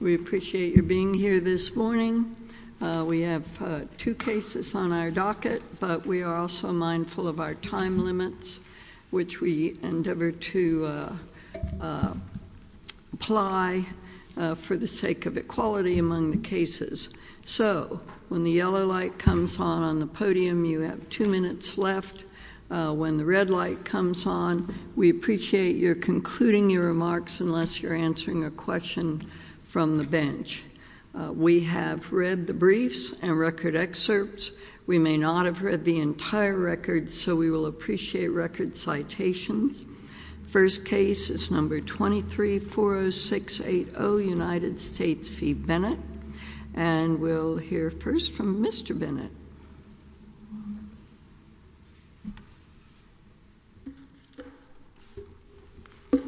We appreciate your being here this morning. We have two cases on our docket, but we are also mindful of our time limits, which we endeavor to apply for the sake of equality among the cases. So when the yellow light comes on on the podium, you have two minutes left. When the red light comes on, we appreciate you're concluding your remarks unless you're answering a question from the bench. We have read the briefs and record excerpts. We may not have read the entire record, so we will appreciate record citations. First case is number 2340680, United States v. Bennett, and we'll hear first from Mr. Bennett. Good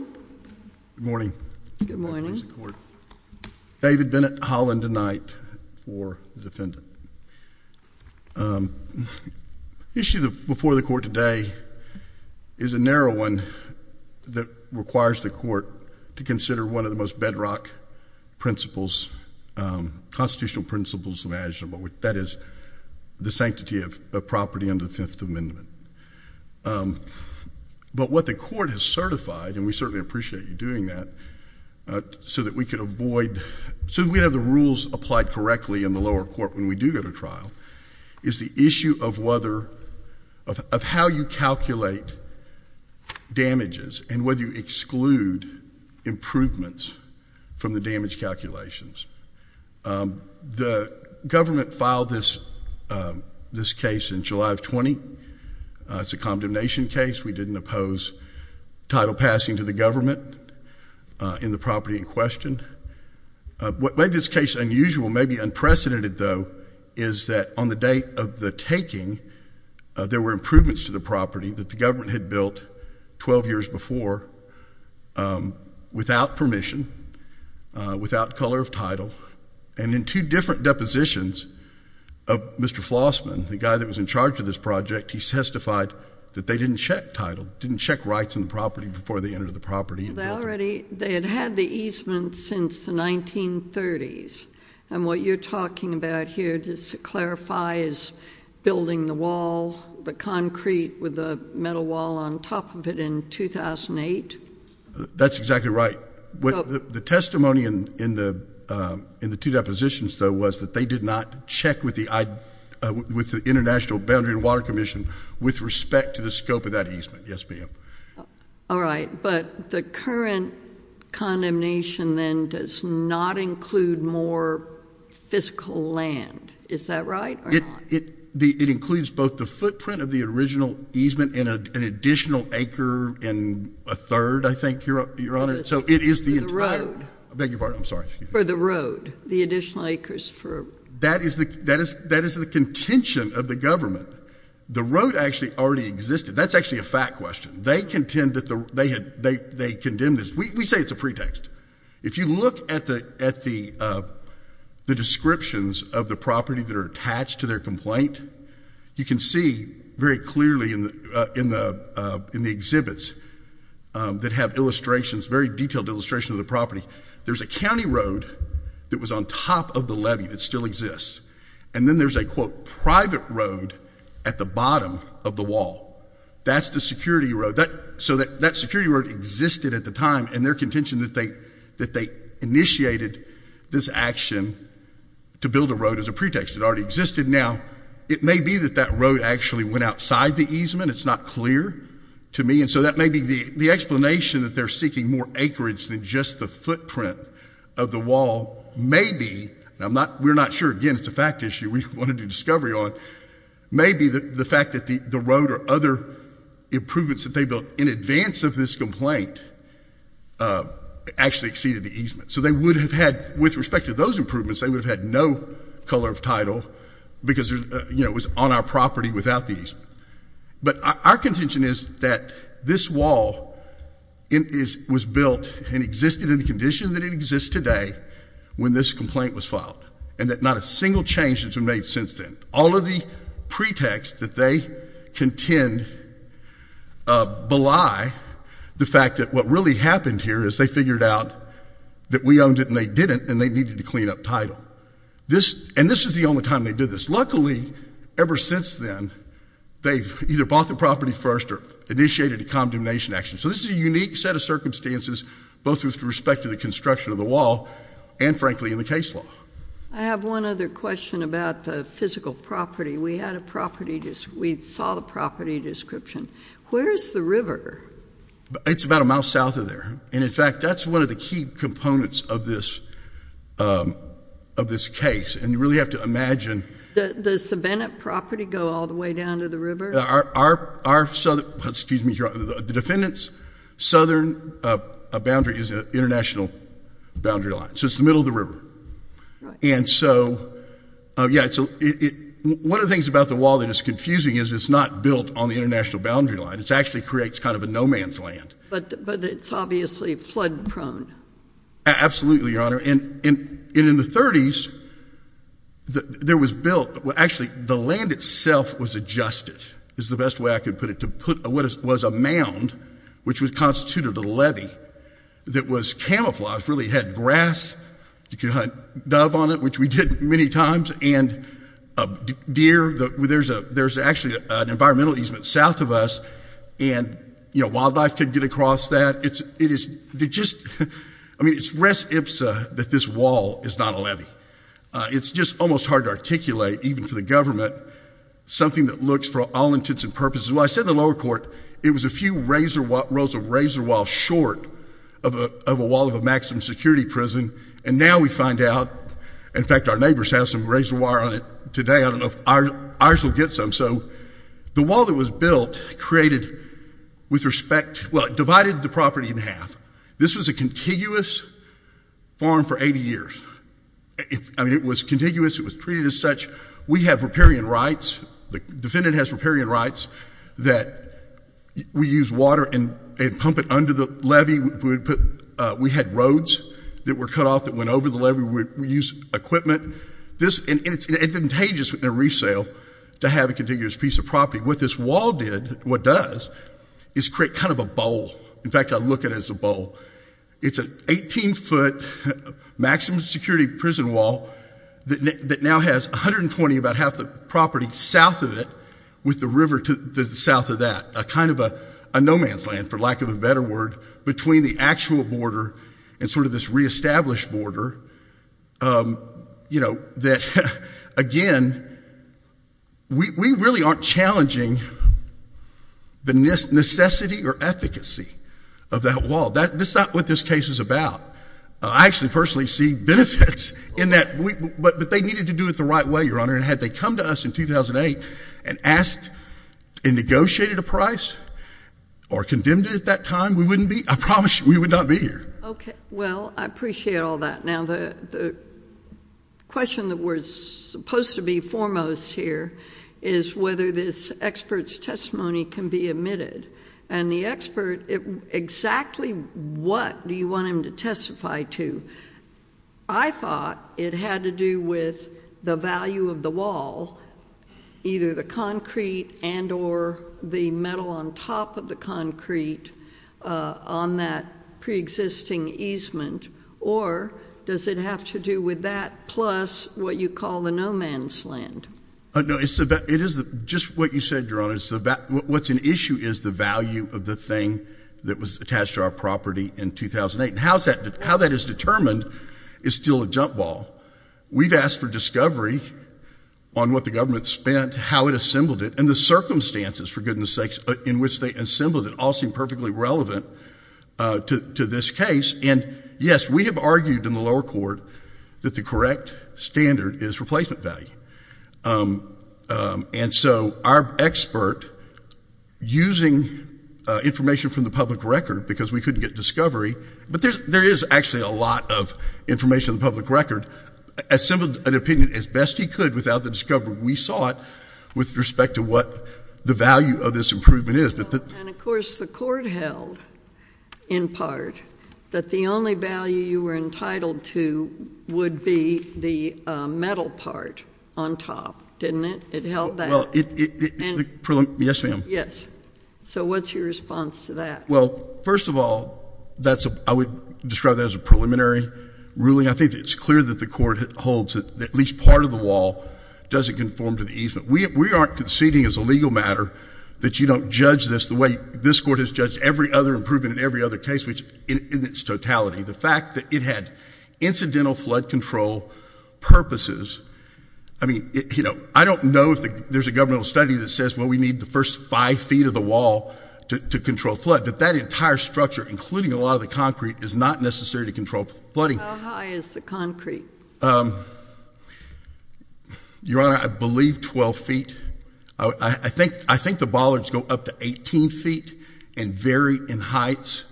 morning. Good morning. David Bennett, Holland and Knight for the defendant. The issue before the court today is a narrow one that requires the court to consider one of the most bedrock principles, constitutional principles imaginable, that is the sanctity of property under the Fifth Amendment. But what the court has certified, and we certainly appreciate you doing that, so that we could avoid, so we have the rules applied correctly in the lower court when we do go to trial, is the issue of whether, of how you calculate damages and whether you exclude improvements from the damage calculations. The government filed this case in July of 20. It's a condemnation case. We didn't oppose title passing to the government in the property in question. What made this case unusual, maybe unprecedented, though, is that on the date of the taking, there were improvements to the property that the government had built 12 years before without permission, without color of title, and in two different depositions of Mr. Flossman, the guy that was in charge of this project, he testified that they didn't check title, didn't check rights in the property before they entered the property and built it. They had had the easement since the 1930s, and what you're talking about here, just to clarify, is building the wall, the concrete with the metal wall on top of it in 2008? That's exactly right. The testimony in the two depositions, though, was that they did not check with the International Boundary and Water Commission with respect to the scope of that easement. Yes, ma'am. All right, but the current condemnation, then, does not include more fiscal land. Is that right or not? It includes both the footprint of the original easement and an additional acre and a third, I think, Your Honor, so it is the entire... I beg your pardon. I'm sorry. For the road, the additional acres for... That is the contention of the government. The road actually already existed. That's actually a fact question. They contend that they condemned this. We say it's a pretext. If you look at the descriptions of the property that are attached to their complaint, you can see very clearly in the exhibits that have illustrations, detailed illustrations of the property, there's a county road that was on top of the levee that still exists, and then there's a, quote, private road at the bottom of the wall. That's the security road. So that security road existed at the time, and their contention that they initiated this action to build a road as a pretext, it already existed. Now, it may be that that road actually went outside the easement. It's not clear to me, and so that may be the explanation that they're seeking more acreage than just the footprint of the wall. Maybe, and we're not sure. Again, it's a fact issue we want to do discovery on. Maybe the fact that the road or other improvements that they built in advance of this complaint actually exceeded the easement. So they would have had, with respect to those improvements, they would have had no color of title because it was on our property without the easement. But our contention is that this wall was built and existed in the condition that it exists today when this complaint was filed, and that not a single change has been made since then. All of the pretext that they contend belie the fact that what really happened here is they figured out that we owned it and they didn't, and they needed to clean up title. And this is the only time they did this. Luckily, ever since then, they've either bought the property first or initiated a condemnation action. So this is a unique set of circumstances, both with respect to the construction of the wall and, frankly, in the case law. I have one other question about the physical property. We saw the property description. Where's the river? It's about a mile south of there. And in fact, that's one of the key components of this case. And you really have to imagine. Does the Bennett property go all the way down to the river? Our southern, excuse me, the defendant's southern boundary is an international boundary line. So it's the middle of the river. And so one of the things about the wall that is confusing is it's not built on the international boundary line. It actually creates kind of a no man's land. But it's obviously flood prone. Absolutely, Your Honor. And in the 30s, there was built, well, actually, the land itself was adjusted, is the best way I could put it, to put what was a mound, which was constituted a levee that was camouflaged, really had grass. You could hunt dove on it, which we did many times. And deer, there's actually an environmental easement south of us. And wildlife could get across that. It is just, I mean, it's res ipsa that this wall is not a levee. It's just almost hard to articulate, even for the government, something that looks for all intents and purposes. Well, I said in the lower court, it was a few rows of razor walls short of a wall of a maximum security prison. And now we find out, in fact, our neighbors have some razor wire on it today. I don't know if ours will get some. So the wall that was built created, with respect, well, it divided the property in half. This was a contiguous farm for 80 years. I mean, it was contiguous. It was treated as such. We have riparian rights. The defendant has riparian rights that we use water and pump it under the levee. We had roads that were cut off that went over the levee. We used equipment. And it's advantageous in a resale to have a contiguous piece of property. What this wall did, what does, is create kind of a bowl. In fact, I look at it as a bowl. It's an 18-foot maximum security prison wall that now has 120, about half the property, south of it with the river to the south of that, kind of a no man's land, for lack of a better word, between the actual border and sort of this re-established border that, again, we really aren't challenging the necessity or efficacy of that wall. That's not what this case is about. I actually personally see benefits in that. But they needed to do it the right way, Your Honor. And had they come to us in 2008 and asked and negotiated a price or condemned it at that time, we wouldn't be, I promise you, we would not be here. OK. Well, I appreciate all that. Now, the question that we're supposed to be foremost here is whether this expert's testimony can be admitted. And the expert, exactly what do you want him to testify to? I thought it had to do with the value of the wall, either the concrete and or the metal on top of the concrete on that pre-existing easement. Or does it have to do with that plus what you call the no man's land? No, it is just what you said, Your Honor. What's an issue is the value of the thing that was attached to our property in 2008. And how that is determined is still a jump ball. We've asked for discovery on what the government spent, how it assembled it, and the circumstances, for goodness sakes, in which they assembled it all seem perfectly relevant to this case. And yes, we have argued in the lower court that the correct standard is replacement value. And so our expert, using information from the public record, because we couldn't get discovery, but there is actually a lot of information in the public record, assembled an opinion as best he could without the discovery we sought with respect to what the value of this improvement is. And of course, the court held, in part, that the only value you were entitled to would be the metal part on top, didn't it? It held that. Yes, ma'am. Yes. So what's your response to that? Well, first of all, I would describe that as a preliminary ruling. I think it's clear that the court holds that at least part of the wall doesn't conform to the easement. We aren't conceding as a legal matter that you don't judge this the way this court has judged every other improvement in every other case, which in its totality. The fact that it had incidental flood control purposes, I mean, I don't know if there's a governmental study that says, well, we need the first five feet of the wall to control flood. But that entire structure, including a lot of the concrete, is not necessary to control flooding. How high is the concrete? Your Honor, I believe 12 feet. I think the bollards go up to 18 feet and vary in heights.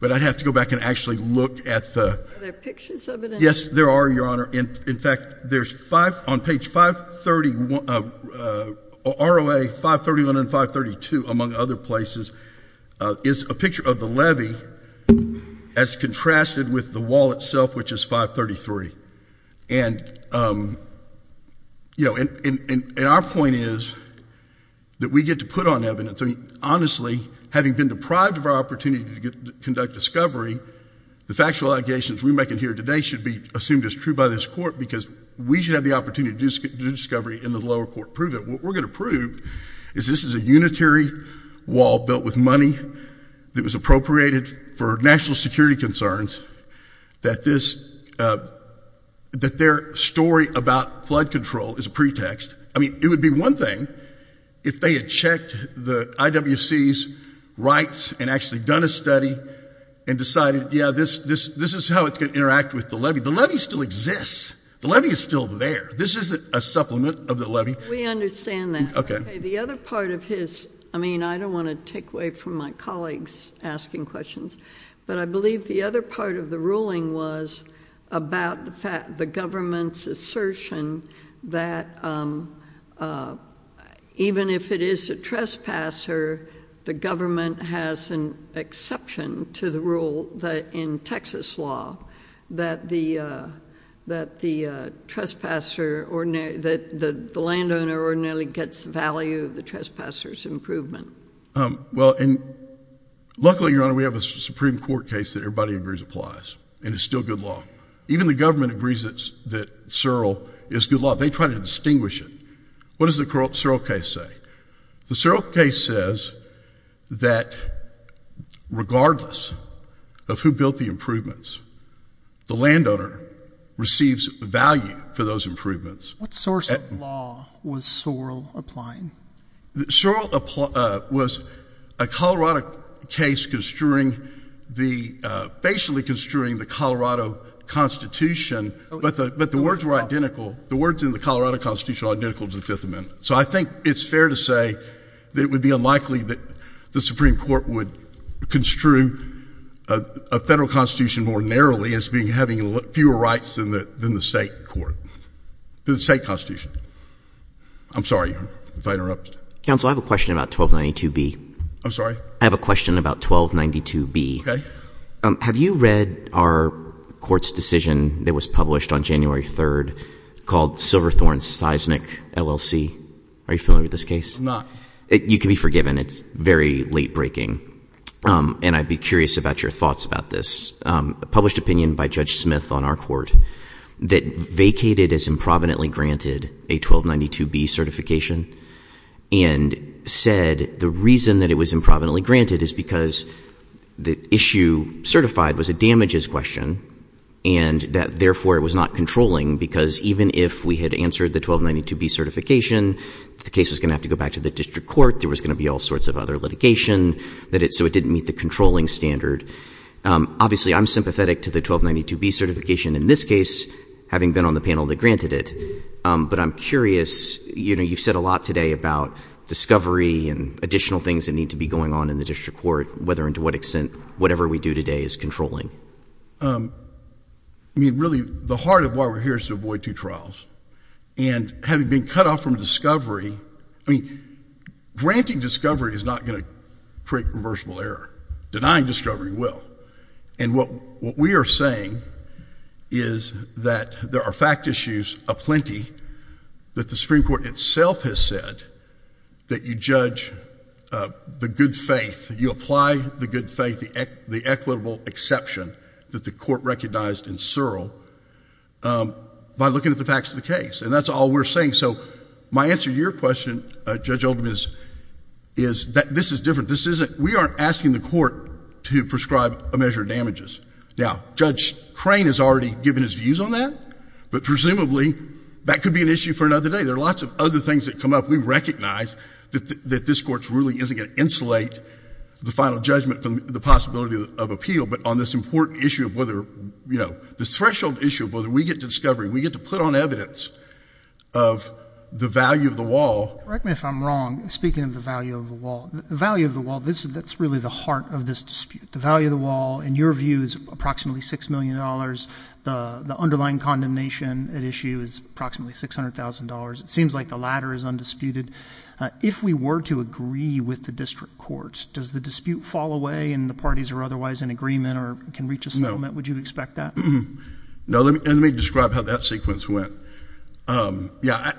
But I'd have to go back and actually look at the. Are there pictures of it? Yes, there are, Your Honor. In fact, there's five on page 531, ROA 531 and 532, among other places, is a picture of the levee as contrasted with the wall itself, which is 533. And our point is that we get to put on evidence. Honestly, having been deprived of our opportunity to conduct discovery, the factual allegations we make in here today should be assumed as true by this court because we should have the opportunity to do discovery in the lower court. Prove it. What we're going to prove is this is a unitary wall built with money that was appropriated for national security concerns, that their story about flood control is a pretext. I mean, it would be one thing if they had checked the IWC's rights and actually done a study and decided, yeah, this is how it can interact with the levee. The levee still exists. The levee is still there. This isn't a supplement of the levee. We understand that. The other part of his, I mean, I don't want to take away from my colleagues asking questions, but I believe the other part of the ruling was about the government's assertion that even if it is a trespasser, the government has an exception to the rule in Texas law that the landowner ordinarily gets value of the trespasser's improvement. Well, luckily, Your Honor, we have a Supreme Court case that everybody agrees applies and is still good law. Even the government agrees that Searle is good law. They try to distinguish it. What does the Searle case say? The Searle case says that regardless of who built the improvements, the landowner receives value for those improvements. What source of law was Searle applying? Searle was a Colorado case basically construing the Colorado Constitution, but the words were identical. The words in the Colorado Constitution are identical to the Fifth Amendment. So I think it's fair to say that it would be unlikely that the Supreme Court would construe a federal constitution more narrowly as having fewer rights than the state constitution. I'm sorry if I interrupted. Counsel, I have a question about 1292B. I'm sorry? I have a question about 1292B. Have you read our court's decision that was published on January 3rd called Silverthorne Seismic LLC? Are you familiar with this case? You can be forgiven. It's very late breaking. And I'd be curious about your thoughts about this. Published opinion by Judge Smith on our court that vacated as improvidently granted a 1292B certification and said the reason that it was improvidently granted is because the issue certified was a damages question and that, therefore, it was not controlling. Because even if we had answered the 1292B certification, the case was going to have to go back to the district court. There was going to be all sorts of other litigation. So it didn't meet the controlling standard. Obviously, I'm sympathetic to the 1292B certification in this case, having been on the panel that granted it. But I'm curious, you've said a lot today about discovery and additional things that need to be going on in the district court, whether and to what extent whatever we do today is controlling. I mean, really, the heart of why we're here is to avoid two trials. And having been cut off from discovery, granting discovery is not going to create reversible error. Denying discovery will. And what we are saying is that there are fact issues aplenty that the Supreme Court itself has said that you judge the good faith, you apply the good faith, the equitable exception that the court recognized in Searle by looking at the facts of the case. And that's all we're saying. So my answer to your question, Judge Oldham, is that this is different. We aren't asking the court to prescribe a measure of damages. Now, Judge Crane has already given his views on that. But presumably, that could be an issue for another day. There are lots of other things that come up. We recognize that this court really isn't going to insulate the final judgment from the possibility of appeal. But on this important issue of whether the threshold issue of whether we get to discovery, we get to put on evidence of the value of the wall. Correct me if I'm wrong, speaking of the value of the wall. The value of the wall, that's really the heart of this dispute. The value of the wall, in your view, is approximately $6 million. The underlying condemnation at issue is approximately $600,000. It seems like the latter is undisputed. If we were to agree with the district courts, does the dispute fall away and the parties are otherwise in agreement or can reach a settlement? Would you expect that? No, let me describe how that sequence went. Yeah,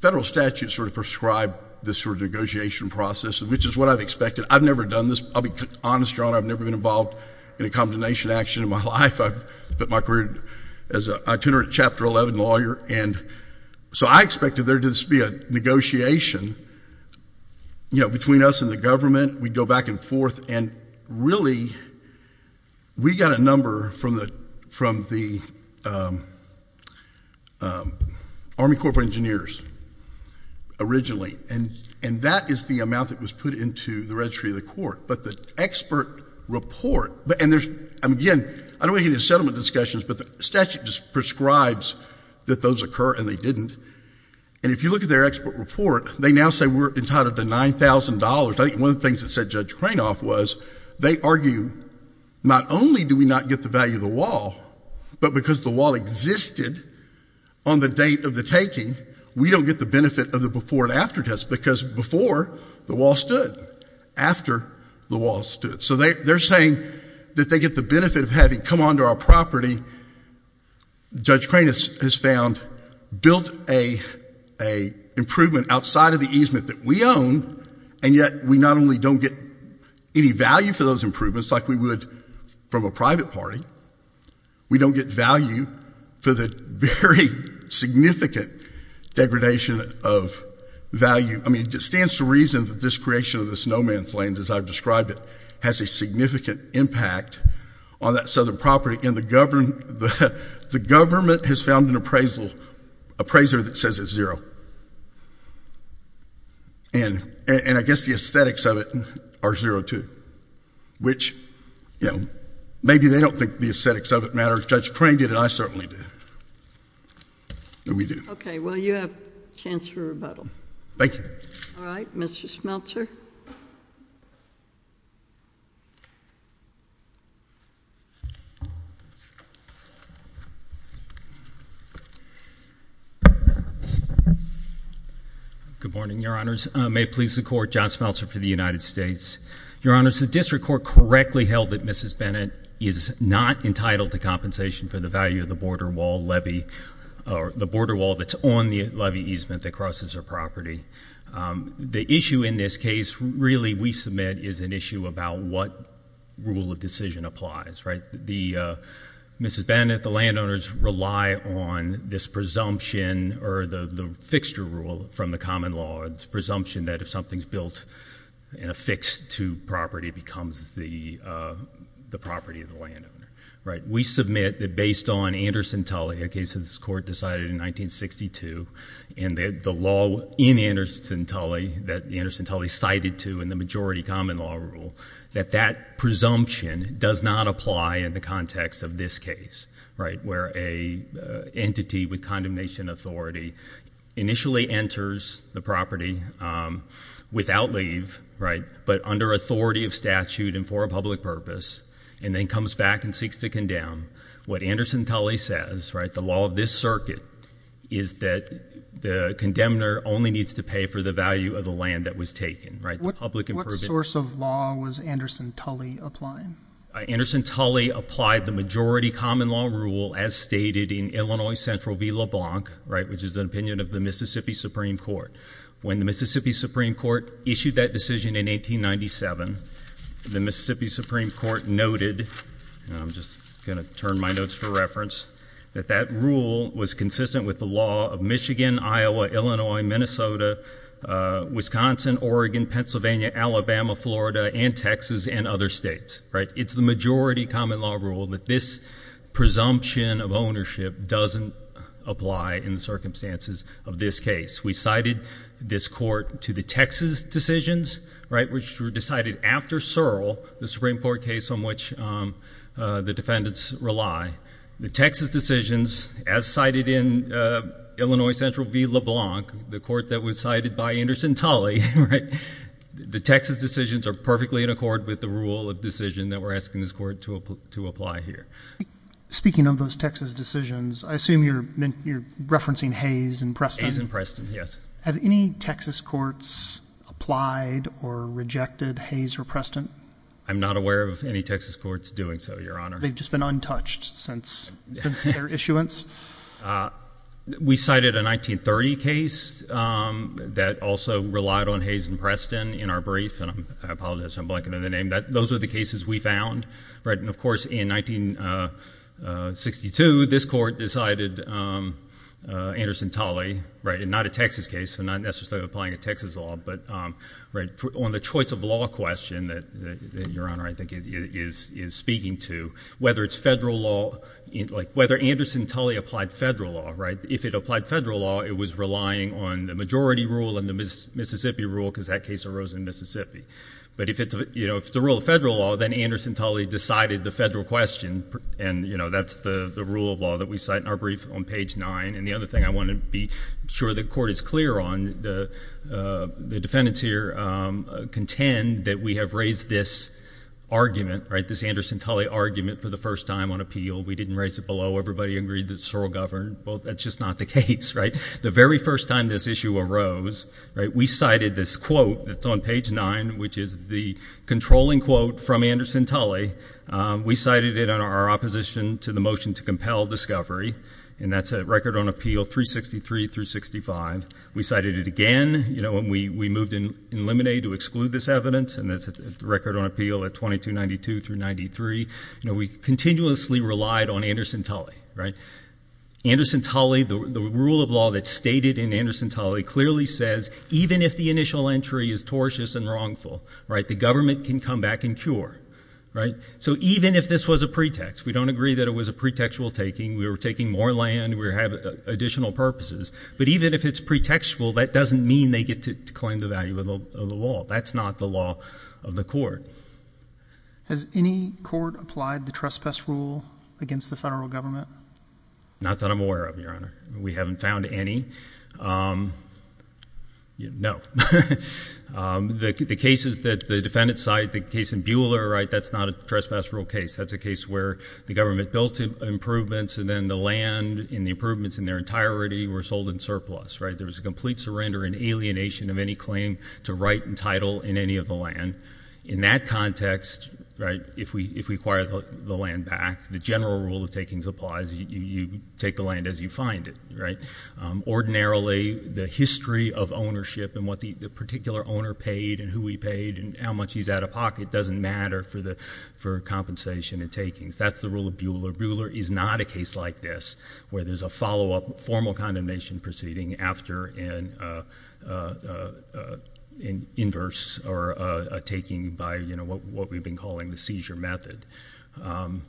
federal statutes sort of prescribe this sort of negotiation process, which is what I've expected. I've never done this. I'll be honest, Your Honor, I've never been involved in a condemnation action in my life. I've spent my career as an itinerant Chapter 11 lawyer. And so I expected there to be a negotiation between us and the government. We'd go back and forth. And really, we got a number from the Army Corporate Engineers originally. And that is the amount that was put into the registry of the court. But the expert report, and again, I don't want to get into settlement discussions, but the statute just prescribes that those occur and they didn't. And if you look at their expert report, they now say we're entitled to $9,000. I think one of the things that said Judge Cranoff was, they argue not only do we not get the value of the wall, but because the wall existed on the date of the taking, we don't get the benefit of the before and after test because before, the wall stood. After, the wall stood. So they're saying that they get the benefit of having come onto our property. Judge Cranoff has found, built a improvement outside of the easement that we own. And yet, we not only don't get any value for those improvements like we would from a private party, we don't get value for the very significant degradation of value. I mean, it stands to reason that this creation of the snowman flames, as I've described it, has a significant impact on that southern property. And the government has found an appraiser that says it's zero. And I guess the aesthetics of it are zero, too, which maybe they don't think the aesthetics of it matters. Judge Crane did, and I certainly did. And we do. OK, well, you have a chance for rebuttal. Thank you. All right, Mr. Schmeltzer. Good morning, Your Honors. May it please the Court, John Schmeltzer for the United States. Your Honors, the district court correctly held that Mrs. Bennett is not entitled to compensation for the value of the border wall that's on the levy easement that crosses her property. The issue in this case, really, we submit is an issue about what rule of decision applies. Mrs. Bennett, the landowners rely on this presumption, or the fixture rule from the common law, the presumption that if something's built and affixed to property, it becomes the property of the landowner. We submit that based on Anderson Tully, a case that this court decided in 1962, and the law in Anderson Tully that Anderson Tully cited to in the majority common law rule, that that presumption does not apply in the context of this case, where a entity with condemnation authority initially enters the property without leave, but under authority of statute and for a public purpose, and then comes back and seeks to condemn. What Anderson Tully says, the law of this circuit, is that the condemner only needs to pay for the value of the land that was taken. The public improvement. What source of law was Anderson Tully applying? Anderson Tully applied the majority common law rule, as stated in Illinois Central v. LeBlanc, which is an opinion of the Mississippi Supreme Court. When the Mississippi Supreme Court issued that decision in 1897, the Mississippi Supreme Court noted, and I'm just going to turn my notes for reference, that that rule was consistent with the law of Michigan, Iowa, Illinois, Minnesota, Wisconsin, Oregon, Pennsylvania, Alabama, Florida, and Texas, and other states. It's the majority common law rule that this presumption of ownership doesn't apply in the circumstances of this case. We cited this court to the Texas decisions, which were decided after Searle, the Supreme Court case on which the defendants rely. The Texas decisions, as cited in Illinois Central v. LeBlanc, the court that was cited by Anderson Tully, the Texas decisions are perfectly in accord with the rule of decision that we're asking this court to apply here. Speaking of those Texas decisions, I assume you're referencing Hayes and Preston? Hayes and Preston, yes. Have any Texas courts applied or rejected Hayes or Preston? I'm not aware of any Texas courts doing so, Your Honor. They've just been untouched since their issuance? We cited a 1930 case that also relied on Hayes and Preston in our brief. And I apologize if I'm blanking on the name. Those are the cases we found. And of course, in 1962, this court decided Anderson Tully, and not a Texas case, so not necessarily applying a Texas law, but on the choice of law question that Your Honor, I think, is speaking to, whether it's federal law, whether Anderson Tully applied federal law, right? If it applied federal law, it was relying on the majority rule and the Mississippi rule, because that case arose in Mississippi. But if it's the rule of federal law, then Anderson Tully decided the federal question. And that's the rule of law that we cite in our brief on page 9. And the other thing I want to be sure the court is clear on, and the defendants here contend that we have raised this argument, this Anderson Tully argument for the first time on appeal. We didn't raise it below. Everybody agreed that Searle governed. Well, that's just not the case, right? The very first time this issue arose, we cited this quote that's on page 9, which is the controlling quote from Anderson Tully. We cited it in our opposition to the motion to compel discovery. And that's a record on appeal 363 through 65. We cited it again when we moved in Lemonade to exclude this evidence. And that's a record on appeal at 2292 through 93. We continuously relied on Anderson Tully, right? Anderson Tully, the rule of law that's stated in Anderson Tully clearly says, even if the initial entry is tortious and wrongful, the government can come back and cure, right? So even if this was a pretext, we don't agree that it was a pretextual taking. We were taking more land. We have additional purposes. But even if it's pretextual, that doesn't mean they get to claim the value of the law. That's not the law of the court. Has any court applied the trespass rule against the federal government? Not that I'm aware of, Your Honor. We haven't found any. No. The cases that the defendants cite, the case in Buehler, that's not a trespass rule case. That's a case where the government built improvements, and then the land and the improvements in their entirety were sold in surplus, right? There was a complete surrender and alienation of any claim to right and title in any of the land. In that context, if we acquire the land back, the general rule of takings applies. You take the land as you find it, right? Ordinarily, the history of ownership and what the particular owner paid, and who he paid, and how much he's out of pocket doesn't matter for compensation and takings. That's the rule of Buehler. Buehler is not a case like this, where there's a follow-up formal condemnation proceeding after an inverse or a taking by what we've been calling the seizure method. And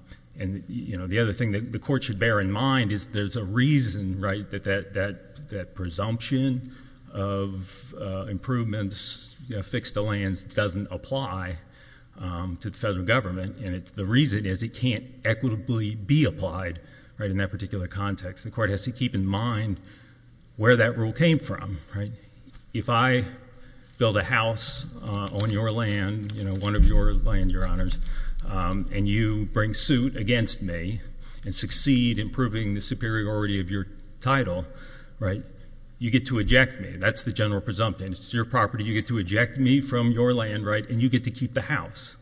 the other thing that the court should bear in mind is there's a reason that that presumption of improvements fixed to lands doesn't apply to the federal government. And the reason is it can't equitably be applied in that particular context. The court has to keep in mind where that rule came from, right? If I build a house on your land, one of your land, your honors, and you bring suit against me and succeed in proving the superiority of your title, you get to eject me. That's the general presumption. It's your property. You get to eject me from your land, right? And you get to keep the house.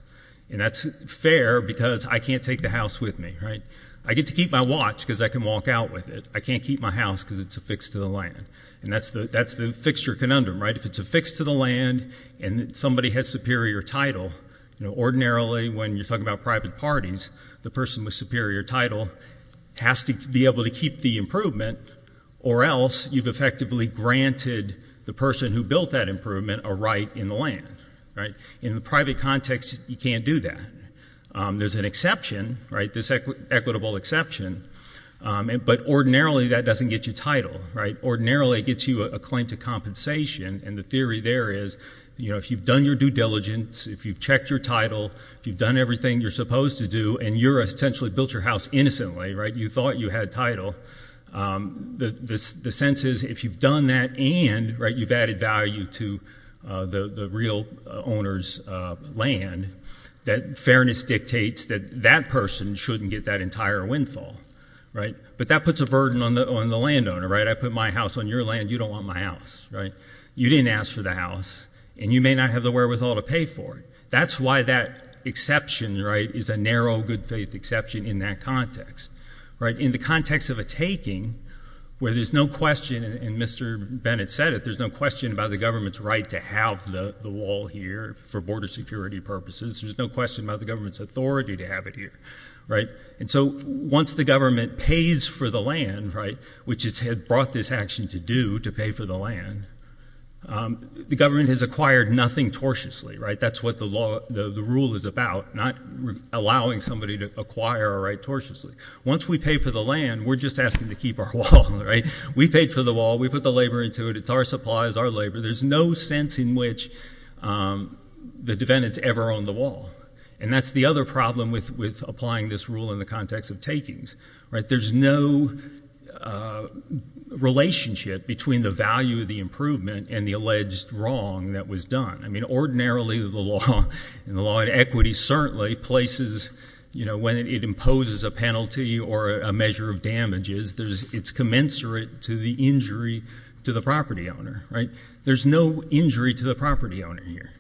And that's fair because I can't take the house with me, right? I get to keep my watch because I can walk out with it. I can't keep my house because it's affixed to the land. And that's the fixture conundrum, right? If it's affixed to the land and somebody has superior title, ordinarily, when you're talking about private parties, the person with superior title has to be able to keep the improvement, or else you've effectively granted the person who built that improvement a right in the land, right? In the private context, you can't do that. There's an exception, right? Equitable exception. But ordinarily, that doesn't get you title, right? Ordinarily, it gets you a claim to compensation. And the theory there is if you've done your due diligence, if you've checked your title, if you've done everything you're supposed to do, and you've essentially built your house innocently, right? You thought you had title, the sense is if you've done that and you've added value to the real owner's land, that fairness dictates that that person shouldn't get that entire windfall, right? But that puts a burden on the landowner, right? I put my house on your land, you don't want my house, right? You didn't ask for the house, and you may not have the wherewithal to pay for it. That's why that exception, right, is a narrow good faith exception in that context, right? In the context of a taking, where there's no question, and Mr. Bennett said it, there's no question about the government's right to have the wall here for border security purposes. There's no question about the government's authority to have it here, right? And so once the government pays for the land, which it had brought this action to do to pay for the land, the government has acquired nothing tortiously, right? That's what the rule is about, not allowing somebody to acquire a right tortiously. Once we pay for the land, we're just asking to keep our wall, right? We paid for the wall, we put the labor into it. It's our supplies, our labor. There's no sense in which the defendants ever own the wall. And that's the other problem with applying this rule in the context of takings, right? There's no relationship between the value of the improvement and the alleged wrong that was done. I mean, ordinarily, the law and the law of equity certainly places, you know, when it imposes a penalty or a measure of damages, it's commensurate to the injury to the property owner, right? There's no injury to the property owner here.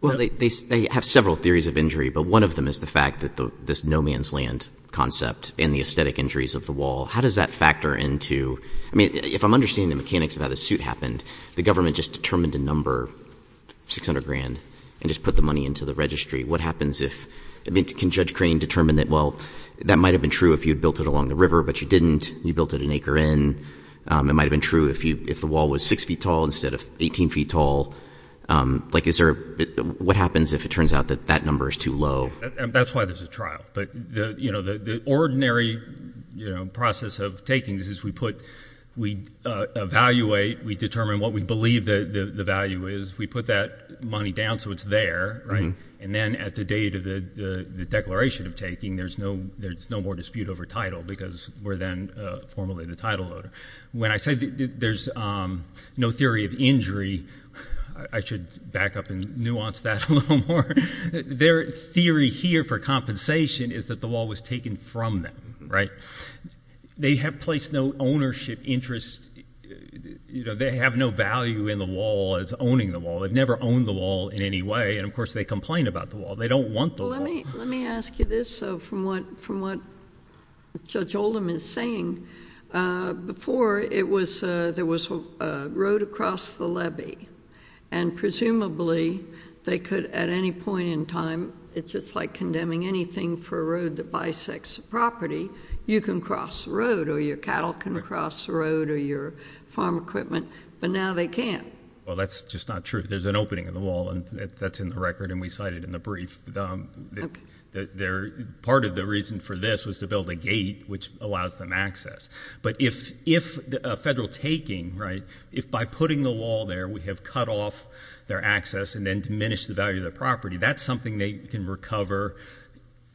Well, they have several theories of injury, but one of them is the fact that this no man's land concept and the aesthetic injuries of the wall, how does that factor into, I mean, if I'm understanding the mechanics of how the suit happened, the government just determined a number, 600 grand, and just put the money into the registry. What happens if, I mean, can Judge Crane determine that, well, that might have been true if you'd built it along the river, but you didn't. You built it an acre in. It might have been true if the wall was six feet tall instead of 18 feet tall. Like, is there a, what happens if it turns out that that number is too low? That's why there's a trial, but the ordinary process of takings is we put, we evaluate, we determine what we believe the value is, we put that money down so it's there, right? And then at the date of the declaration of taking, there's no more dispute over title because we're then formally the title owner. When I say there's no theory of injury, I should back up and nuance that a little more. Their theory here for compensation is that the wall was taken from them, right? They have placed no ownership interest. They have no value in the wall as owning the wall. They've never owned the wall in any way, and of course, they complain about the wall. They don't want the wall. Let me ask you this from what Judge Oldham is saying. Before, there was a road across the levy, and presumably, they could at any point in time, it's just like condemning anything for a road that bisects a property, you can cross the road, or your cattle can cross the road, or your farm equipment, but now they can't. Well, that's just not true. There's an opening in the wall, and that's in the record, and we cite it in the brief. Part of the reason for this was to build a gate which allows them access, but if a federal taking, right, if by putting the wall there, we have cut off their access and then diminished the value of the property, that's something they can recover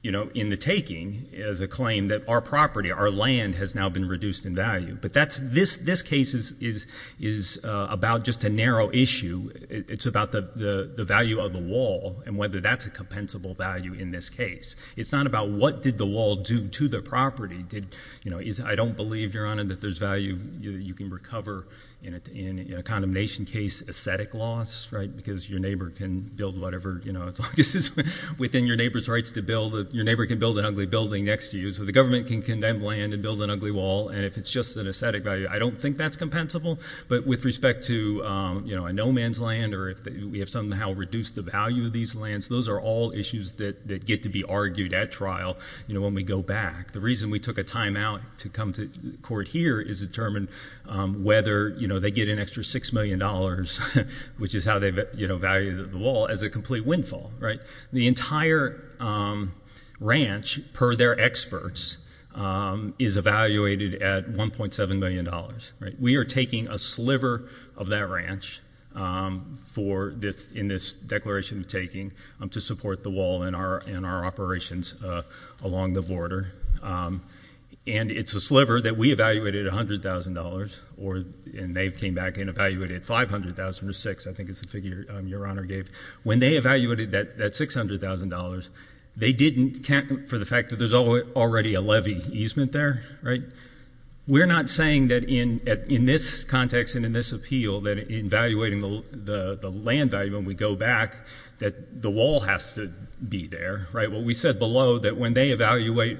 in the taking as a claim that our property, our land, has now been reduced in value, but this case is about just a narrow issue. It's about the value of the wall and whether that's a compensable value in this case. It's not about what did the wall do to the property. I don't believe, Your Honor, that there's value you can recover in a condemnation case, aesthetic loss, right, because your neighbor can build whatever, you know, as long as it's within your neighbor's rights to build, your neighbor can build an ugly building next to you, so the government can condemn land and build an ugly wall, and if it's just an aesthetic value, I don't think that's compensable, but with respect to a no man's land or if we have somehow reduced the value of these lands, those are all issues that get to be argued at trial you know, when we go back. The reason we took a timeout to come to court here is to determine whether, you know, they get an extra six million dollars, which is how they value the wall, as a complete windfall, right? The entire ranch, per their experts, is evaluated at 1.7 million dollars, right? We are taking a sliver of that ranch in this declaration we're taking to support the wall and our operations along the border, and it's a sliver that we evaluated at 100,000 dollars, or, and they came back and evaluated 500,000 or six, I think is the figure your honor gave. When they evaluated that 600,000 dollars, they didn't count for the fact that there's already a levy easement there, right? We're not saying that in this context and in this appeal that in evaluating the land value when we go back, that the wall has to be there, right? Well, we said below that when they evaluate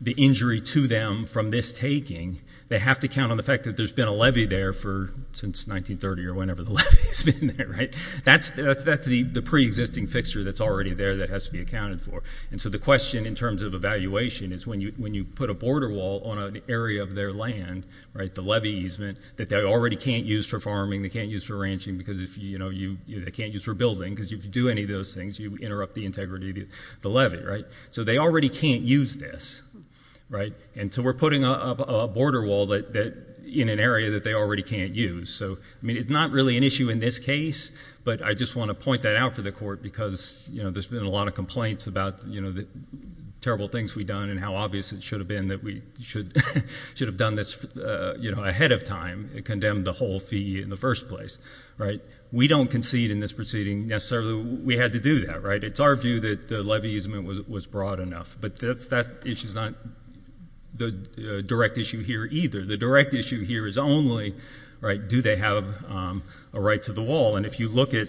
the injury to them from this taking, they have to count on the fact that there's been a levy there for, since 1930, or whenever the levy's been there, right? That's the pre-existing fixture that's already there that has to be accounted for, and so the question in terms of evaluation is when you put a border wall on an area of their land, right, the levy easement, that they already can't use for farming, they can't use for ranching, because if you, you know, they can't use for building, because if you do any of those things, you interrupt the integrity of the levy, right? So they already can't use this, right? And so we're putting up a border wall that, in an area that they already can't use. So, I mean, it's not really an issue in this case, but I just want to point that out for the court, because, you know, there's been a lot of complaints about, you know, the terrible things we've done, and how obvious it should have been that we should, should have done this, you know, ahead of time, and condemned the whole fee in the first place, right? We don't concede in this proceeding, necessarily we had to do that, right? It's our view that the levy easement was broad enough, but that issue's not the direct issue here either. The direct issue here is only, right, do they have a right to the wall? And if you look at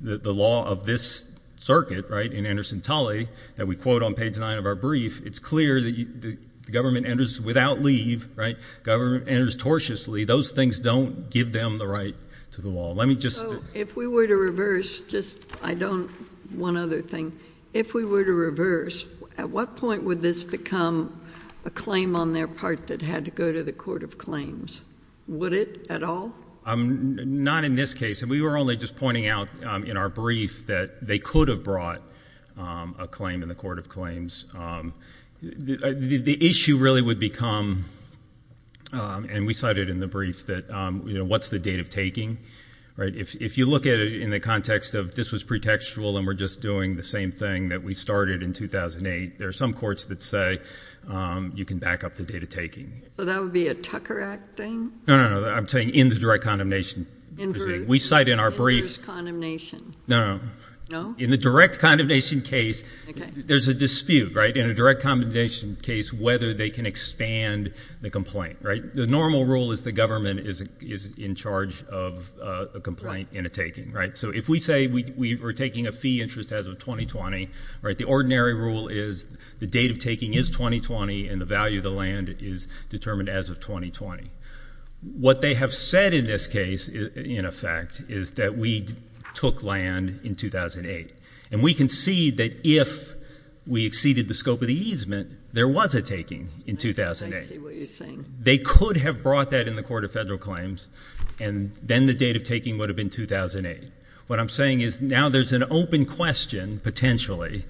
the law of this circuit, right, in Anderson Tully, that we quote on page nine of our brief, it's clear that the government enters without leave, right, government enters tortiously, those things don't give them the right to the wall. Let me just. So, if we were to reverse, just, I don't, one other thing, if we were to reverse, at what point would this become a claim on their part that had to go to the court of claims? Would it at all? Not in this case, and we were only just pointing out in our brief that they could have brought a claim to the court of claims. The issue really would become, and we cited in the brief that, what's the date of taking, right? If you look at it in the context of this was pre-textual and we're just doing the same thing that we started in 2008, there are some courts that say you can back up the date of taking. So that would be a Tucker Act thing? No, no, no, I'm saying in the direct condemnation. We cite in our briefs. Inverse condemnation. No, no. No? In the direct condemnation case, there's a dispute, right? In a direct condemnation case, whether they can expand the complaint, right? The normal rule is the government is in charge of a complaint and a taking, right? So if we say we were taking a fee interest as of 2020, right, the ordinary rule is the date of taking is 2020 and the value of the land is determined as of 2020. What they have said in this case, in effect, is that we took land in 2008. And we can see that if we exceeded the scope of the easement, there was a taking in 2008. I see what you're saying. They could have brought that in the Court of Federal Claims and then the date of taking would have been 2008. What I'm saying is now there's an open question, potentially,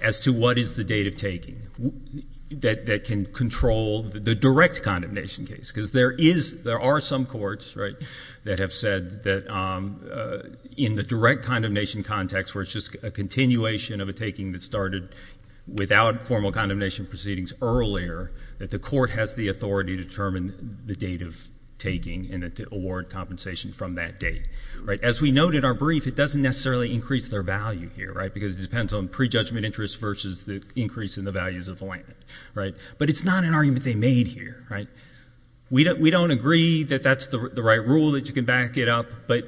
as to what is the date of taking that can control the direct condemnation case. Because there are some courts, right, that have said that in the direct condemnation context, where it's just a continuation of a taking that started without formal condemnation proceedings earlier that the court has the authority to determine the date of taking and to award compensation from that date, right? As we note in our brief, it doesn't necessarily increase their value here, right? Because it depends on prejudgment interest versus the increase in the values of the land, right? But it's not an argument they made here, right? We don't agree that that's the right rule that you can back it up, but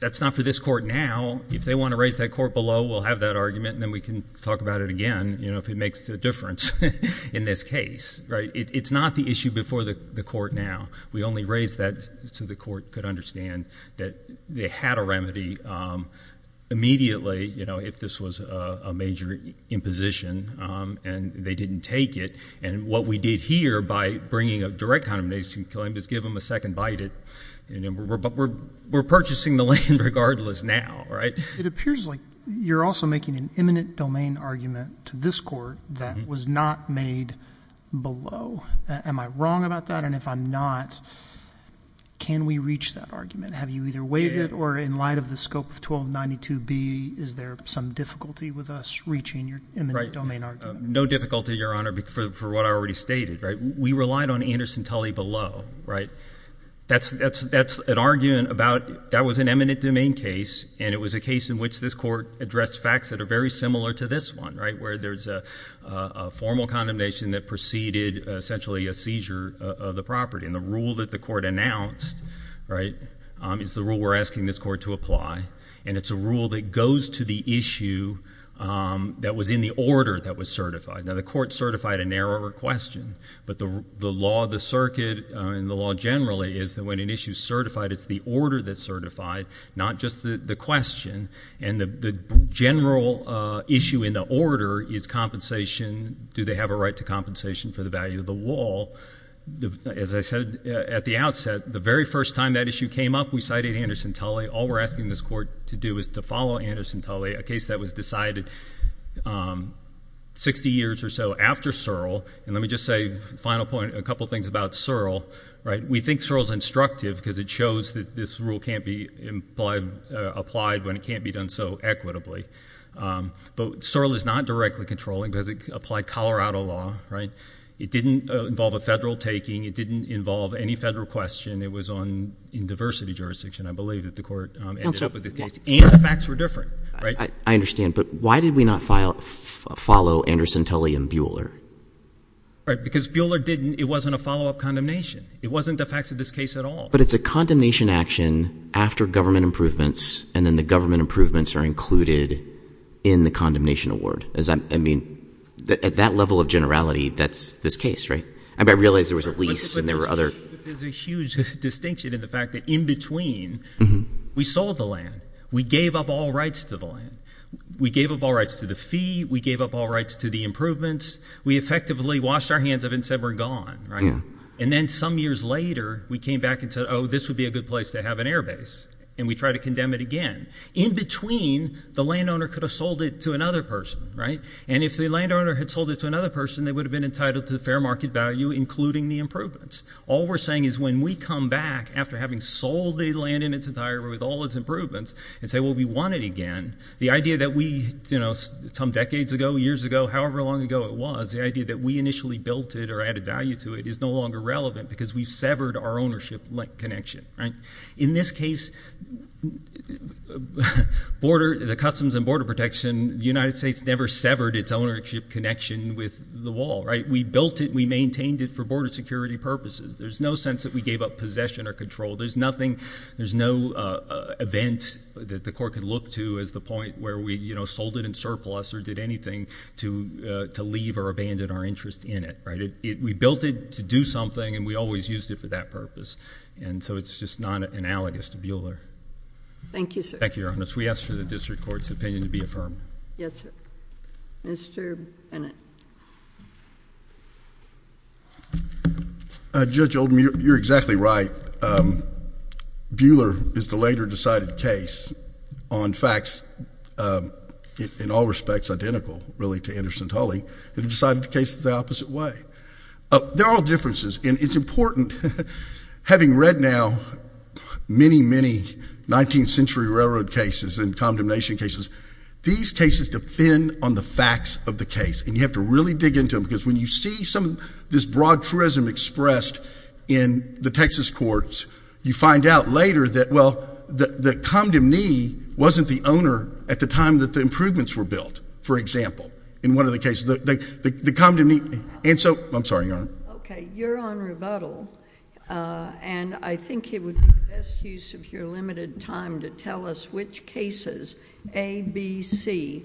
that's not for this court now. If they want to raise that court below, we'll have that argument, and then we can talk about it again, you know, if it makes a difference in this case, right? It's not the issue before the court now. We only raised that so the court could understand that they had a remedy immediately, you know, if this was a major imposition and they didn't take it. And what we did here by bringing a direct condemnation claim is give them a second bite it, but we're purchasing the land regardless now, right? It appears like you're also making an imminent domain argument to this court that was not made below. Am I wrong about that? And if I'm not, can we reach that argument? Have you either waived it or in light of the scope of 1292B, is there some difficulty with us reaching your imminent domain argument? No difficulty, Your Honor, for what I already stated, right? We relied on Anderson Tully below, right? That's an argument about that was an imminent domain case and it was a case in which this court addressed facts that are very similar to this one, right? Where there's a formal condemnation that preceded essentially a seizure of the property. And the rule that the court announced, right, is the rule we're asking this court to apply. And it's a rule that goes to the issue that was in the order that was certified. Now the court certified a narrower question, but the law of the circuit and the law generally is that when an issue is certified, it's the order that's certified, not just the question. And the general issue in the order is compensation. Do they have a right to compensation for the value of the wall? As I said at the outset, the very first time that issue came up, we cited Anderson Tully. All we're asking this court to do is to follow Anderson Tully, a case that was decided 60 years or so after Searle. And let me just say, final point, a couple of things about Searle, right? We think Searle's instructive because it shows that this rule can't be applied when it can't be done so equitably. But Searle is not directly controlling because it applied Colorado law, right? It didn't involve a federal taking. It didn't involve any federal question. It was in diversity jurisdiction, I believe, that the court ended up with the case. And the facts were different, right? I understand, but why did we not follow Anderson Tully and Buehler? Right, because Buehler didn't, it wasn't a follow-up condemnation. It wasn't the facts of this case at all. But it's a condemnation action after government improvements, and then the government improvements are included in the condemnation award. Is that, I mean, at that level of generality, that's this case, right? I mean, I realize there was a lease, and there were other- But there's a huge distinction in the fact that in between, we sold the land. We gave up all rights to the land. We gave up all rights to the fee. We gave up all rights to the improvements. We effectively washed our hands of it and said, we're gone, right? And then some years later, we came back and said, oh, this would be a good place to have an airbase. And we tried to condemn it again. In between, the landowner could have sold it to another person, right? And if the landowner had sold it to another person, they would have been entitled to the fair market value, including the improvements. All we're saying is when we come back after having sold the land in its entirety with all its improvements and say, well, we want it again, the idea that we, some decades ago, years ago, however long ago it was, the idea that we initially built it or added value to it is no longer relevant because we've severed our ownership-like connection, right? In this case, the Customs and Border Protection, the United States never severed its ownership connection with the wall, right? We built it, we maintained it for border security purposes. There's no sense that we gave up possession or control. There's nothing, there's no event that the court could look to as the point where we sold it in surplus or did anything to leave or abandon our interest in it, right? We built it to do something and we always used it for that purpose. And so it's just not analogous to Bueller. Thank you, sir. Thank you, Your Honor. We ask for the district court's opinion to be affirmed. Yes, sir. Mr. Bennett. Judge Oldham, you're exactly right. Bueller is the later decided case on facts in all respects identical really to Anderson Tully and decided the case the opposite way. There are differences and it's important having read now many, many 19th century railroad cases and condemnation cases. These cases depend on the facts of the case and you have to really dig into them because when you see some of this broad truism expressed in the Texas courts, you find out later that, well, the condom knee wasn't the owner at the time that the improvements were built, for example, in one of the cases, the condom knee. And so, I'm sorry, Your Honor. Okay, you're on rebuttal. And I think it would be best use of your limited time to tell us which cases, A, B, C,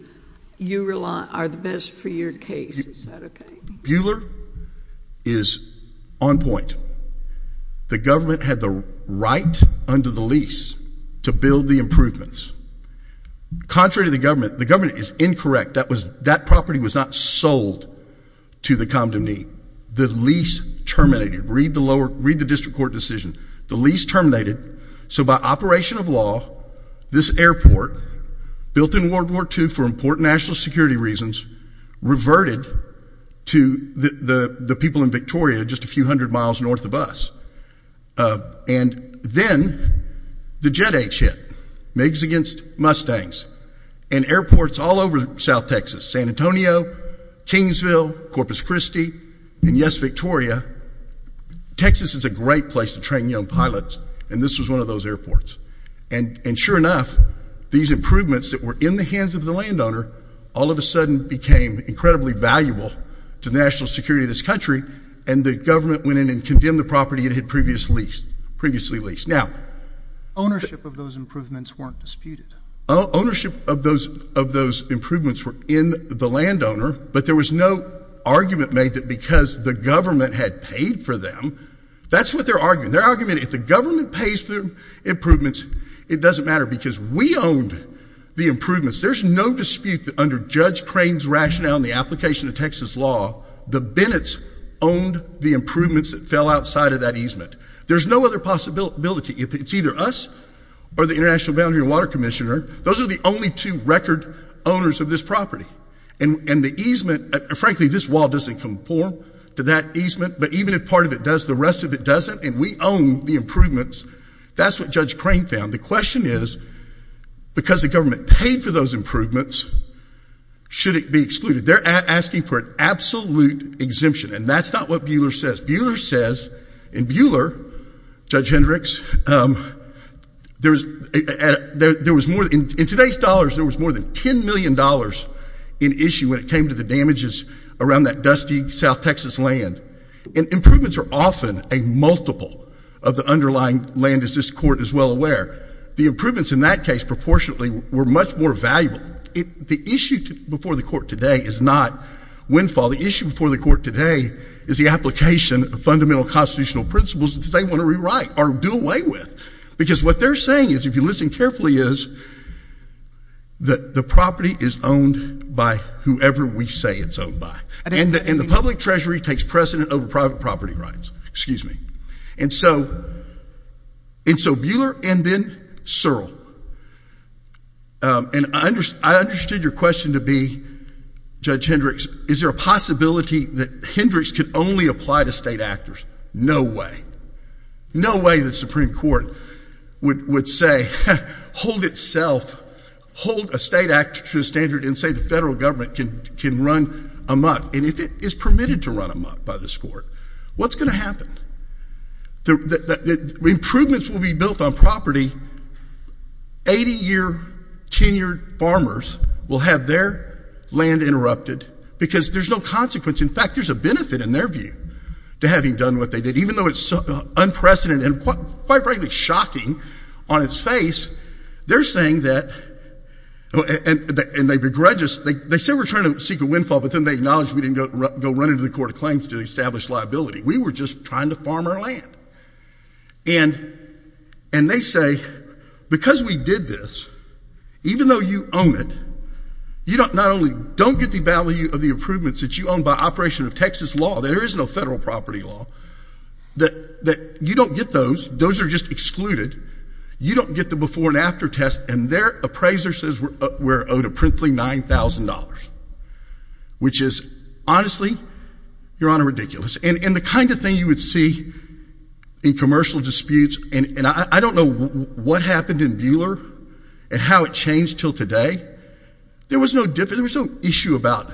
you rely on are the best for your case, is that okay? Bueller is on point. The government had the right under the lease to build the improvements. Contrary to the government, the government is incorrect. That property was not sold to the condom knee. The lease terminated. Read the lower, read the district court decision. The lease terminated, so by operation of law, this airport built in World War II for important national security reasons reverted to the people in Victoria just a few hundred miles north of us. And then, the jet age hit. Migs against Mustangs. And airports all over South Texas, San Antonio, Kingsville, Corpus Christi, and yes, Victoria. Texas is a great place to train young pilots, and this was one of those airports. And sure enough, these improvements that were in the hands of the landowner all of a sudden became incredibly valuable to national security of this country, and the government went in and condemned the property it had previously leased. Ownership of those improvements weren't disputed. Ownership of those improvements were in the landowner, but there was no argument made that because the government had paid for them, that's what their argument. Their argument, if the government pays for improvements, it doesn't matter because we owned the improvements. There's no dispute that under Judge Crane's rationale and the application of Texas law, the Bennetts owned the improvements that fell outside of that easement. There's no other possibility. It's either us, or the International Boundary and Water Commissioner. Those are the only two record owners of this property. And the easement, frankly, this wall doesn't conform to that easement, but even if part of it does, the rest of it doesn't, and we own the improvements. That's what Judge Crane found. The question is, because the government paid for those improvements, should it be excluded? They're asking for an absolute exemption, and that's not what Buehler says. Buehler says, and Buehler, Judge Hendricks, there was more, in today's dollars, there was more than $10 million in issue when it came to the damages around that dusty South Texas land. And improvements are often a multiple of the underlying land, as this court is well aware. The improvements in that case, proportionately, were much more valuable. The issue before the court today is not windfall. The issue before the court today is the application of fundamental constitutional principles that they want to rewrite or do away with. Because what they're saying is, if you listen carefully, is that the property is owned by whoever we say it's owned by. And the public treasury takes precedent over private property rights, excuse me. And so, Buehler and then Searle. And I understood your question to be, Judge Hendricks, is there a possibility that Hendricks could only apply to state actors? No way. No way the Supreme Court would say, hold itself, hold a state actor to the standard and say the federal government can run amok. And if it is permitted to run amok by this court, what's gonna happen? The improvements will be built on property. 80-year tenured farmers will have their land interrupted because there's no consequence. In fact, there's a benefit in their view to having done what they did. Even though it's unprecedented and quite frankly shocking on its face, they're saying that, and they begrudge us, they said we're trying to seek a windfall, but then they acknowledged we didn't go run into the court of claims to establish liability. We were just trying to farm our land. And they say, because we did this, even though you own it, you not only don't get the value of the improvements that you own by operation of Texas law, there is no federal property law, that you don't get those, those are just excluded. You don't get the before and after test and their appraiser says we're owed a princely $9,000, which is honestly, Your Honor, ridiculous. And the kind of thing you would see in commercial disputes, and I don't know what happened in Buehler and how it changed till today, there was no issue about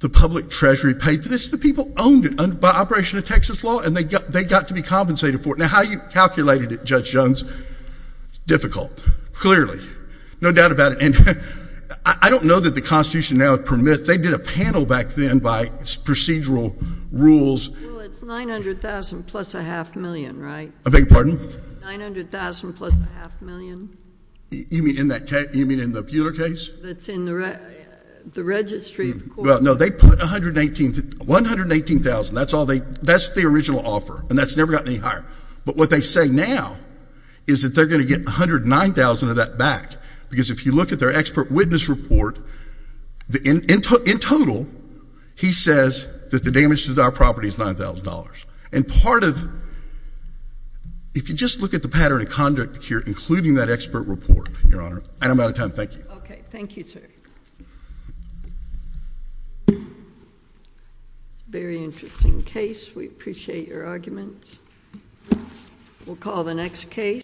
the public treasury paid for this, the people owned it by operation of Texas law and they got to be compensated for it. Now, how you calculated it, Judge Jones, difficult, clearly, no doubt about it. And I don't know that the constitution now permits, if they did a panel back then by procedural rules. Well, it's 900,000 plus a half million, right? I beg your pardon? 900,000 plus a half million. You mean in that case, you mean in the Buehler case? That's in the registry of courts. No, they put 118,000, that's all they, that's the original offer and that's never gotten any higher. But what they say now, is that they're gonna get 109,000 of that back. Because if you look at their expert witness report, in total, he says that the damage to our property is $9,000. And part of, if you just look at the pattern of conduct here, including that expert report, Your Honor, and I'm out of time, thank you. Okay, thank you, sir. Very interesting case, we appreciate your arguments. We'll call the next case.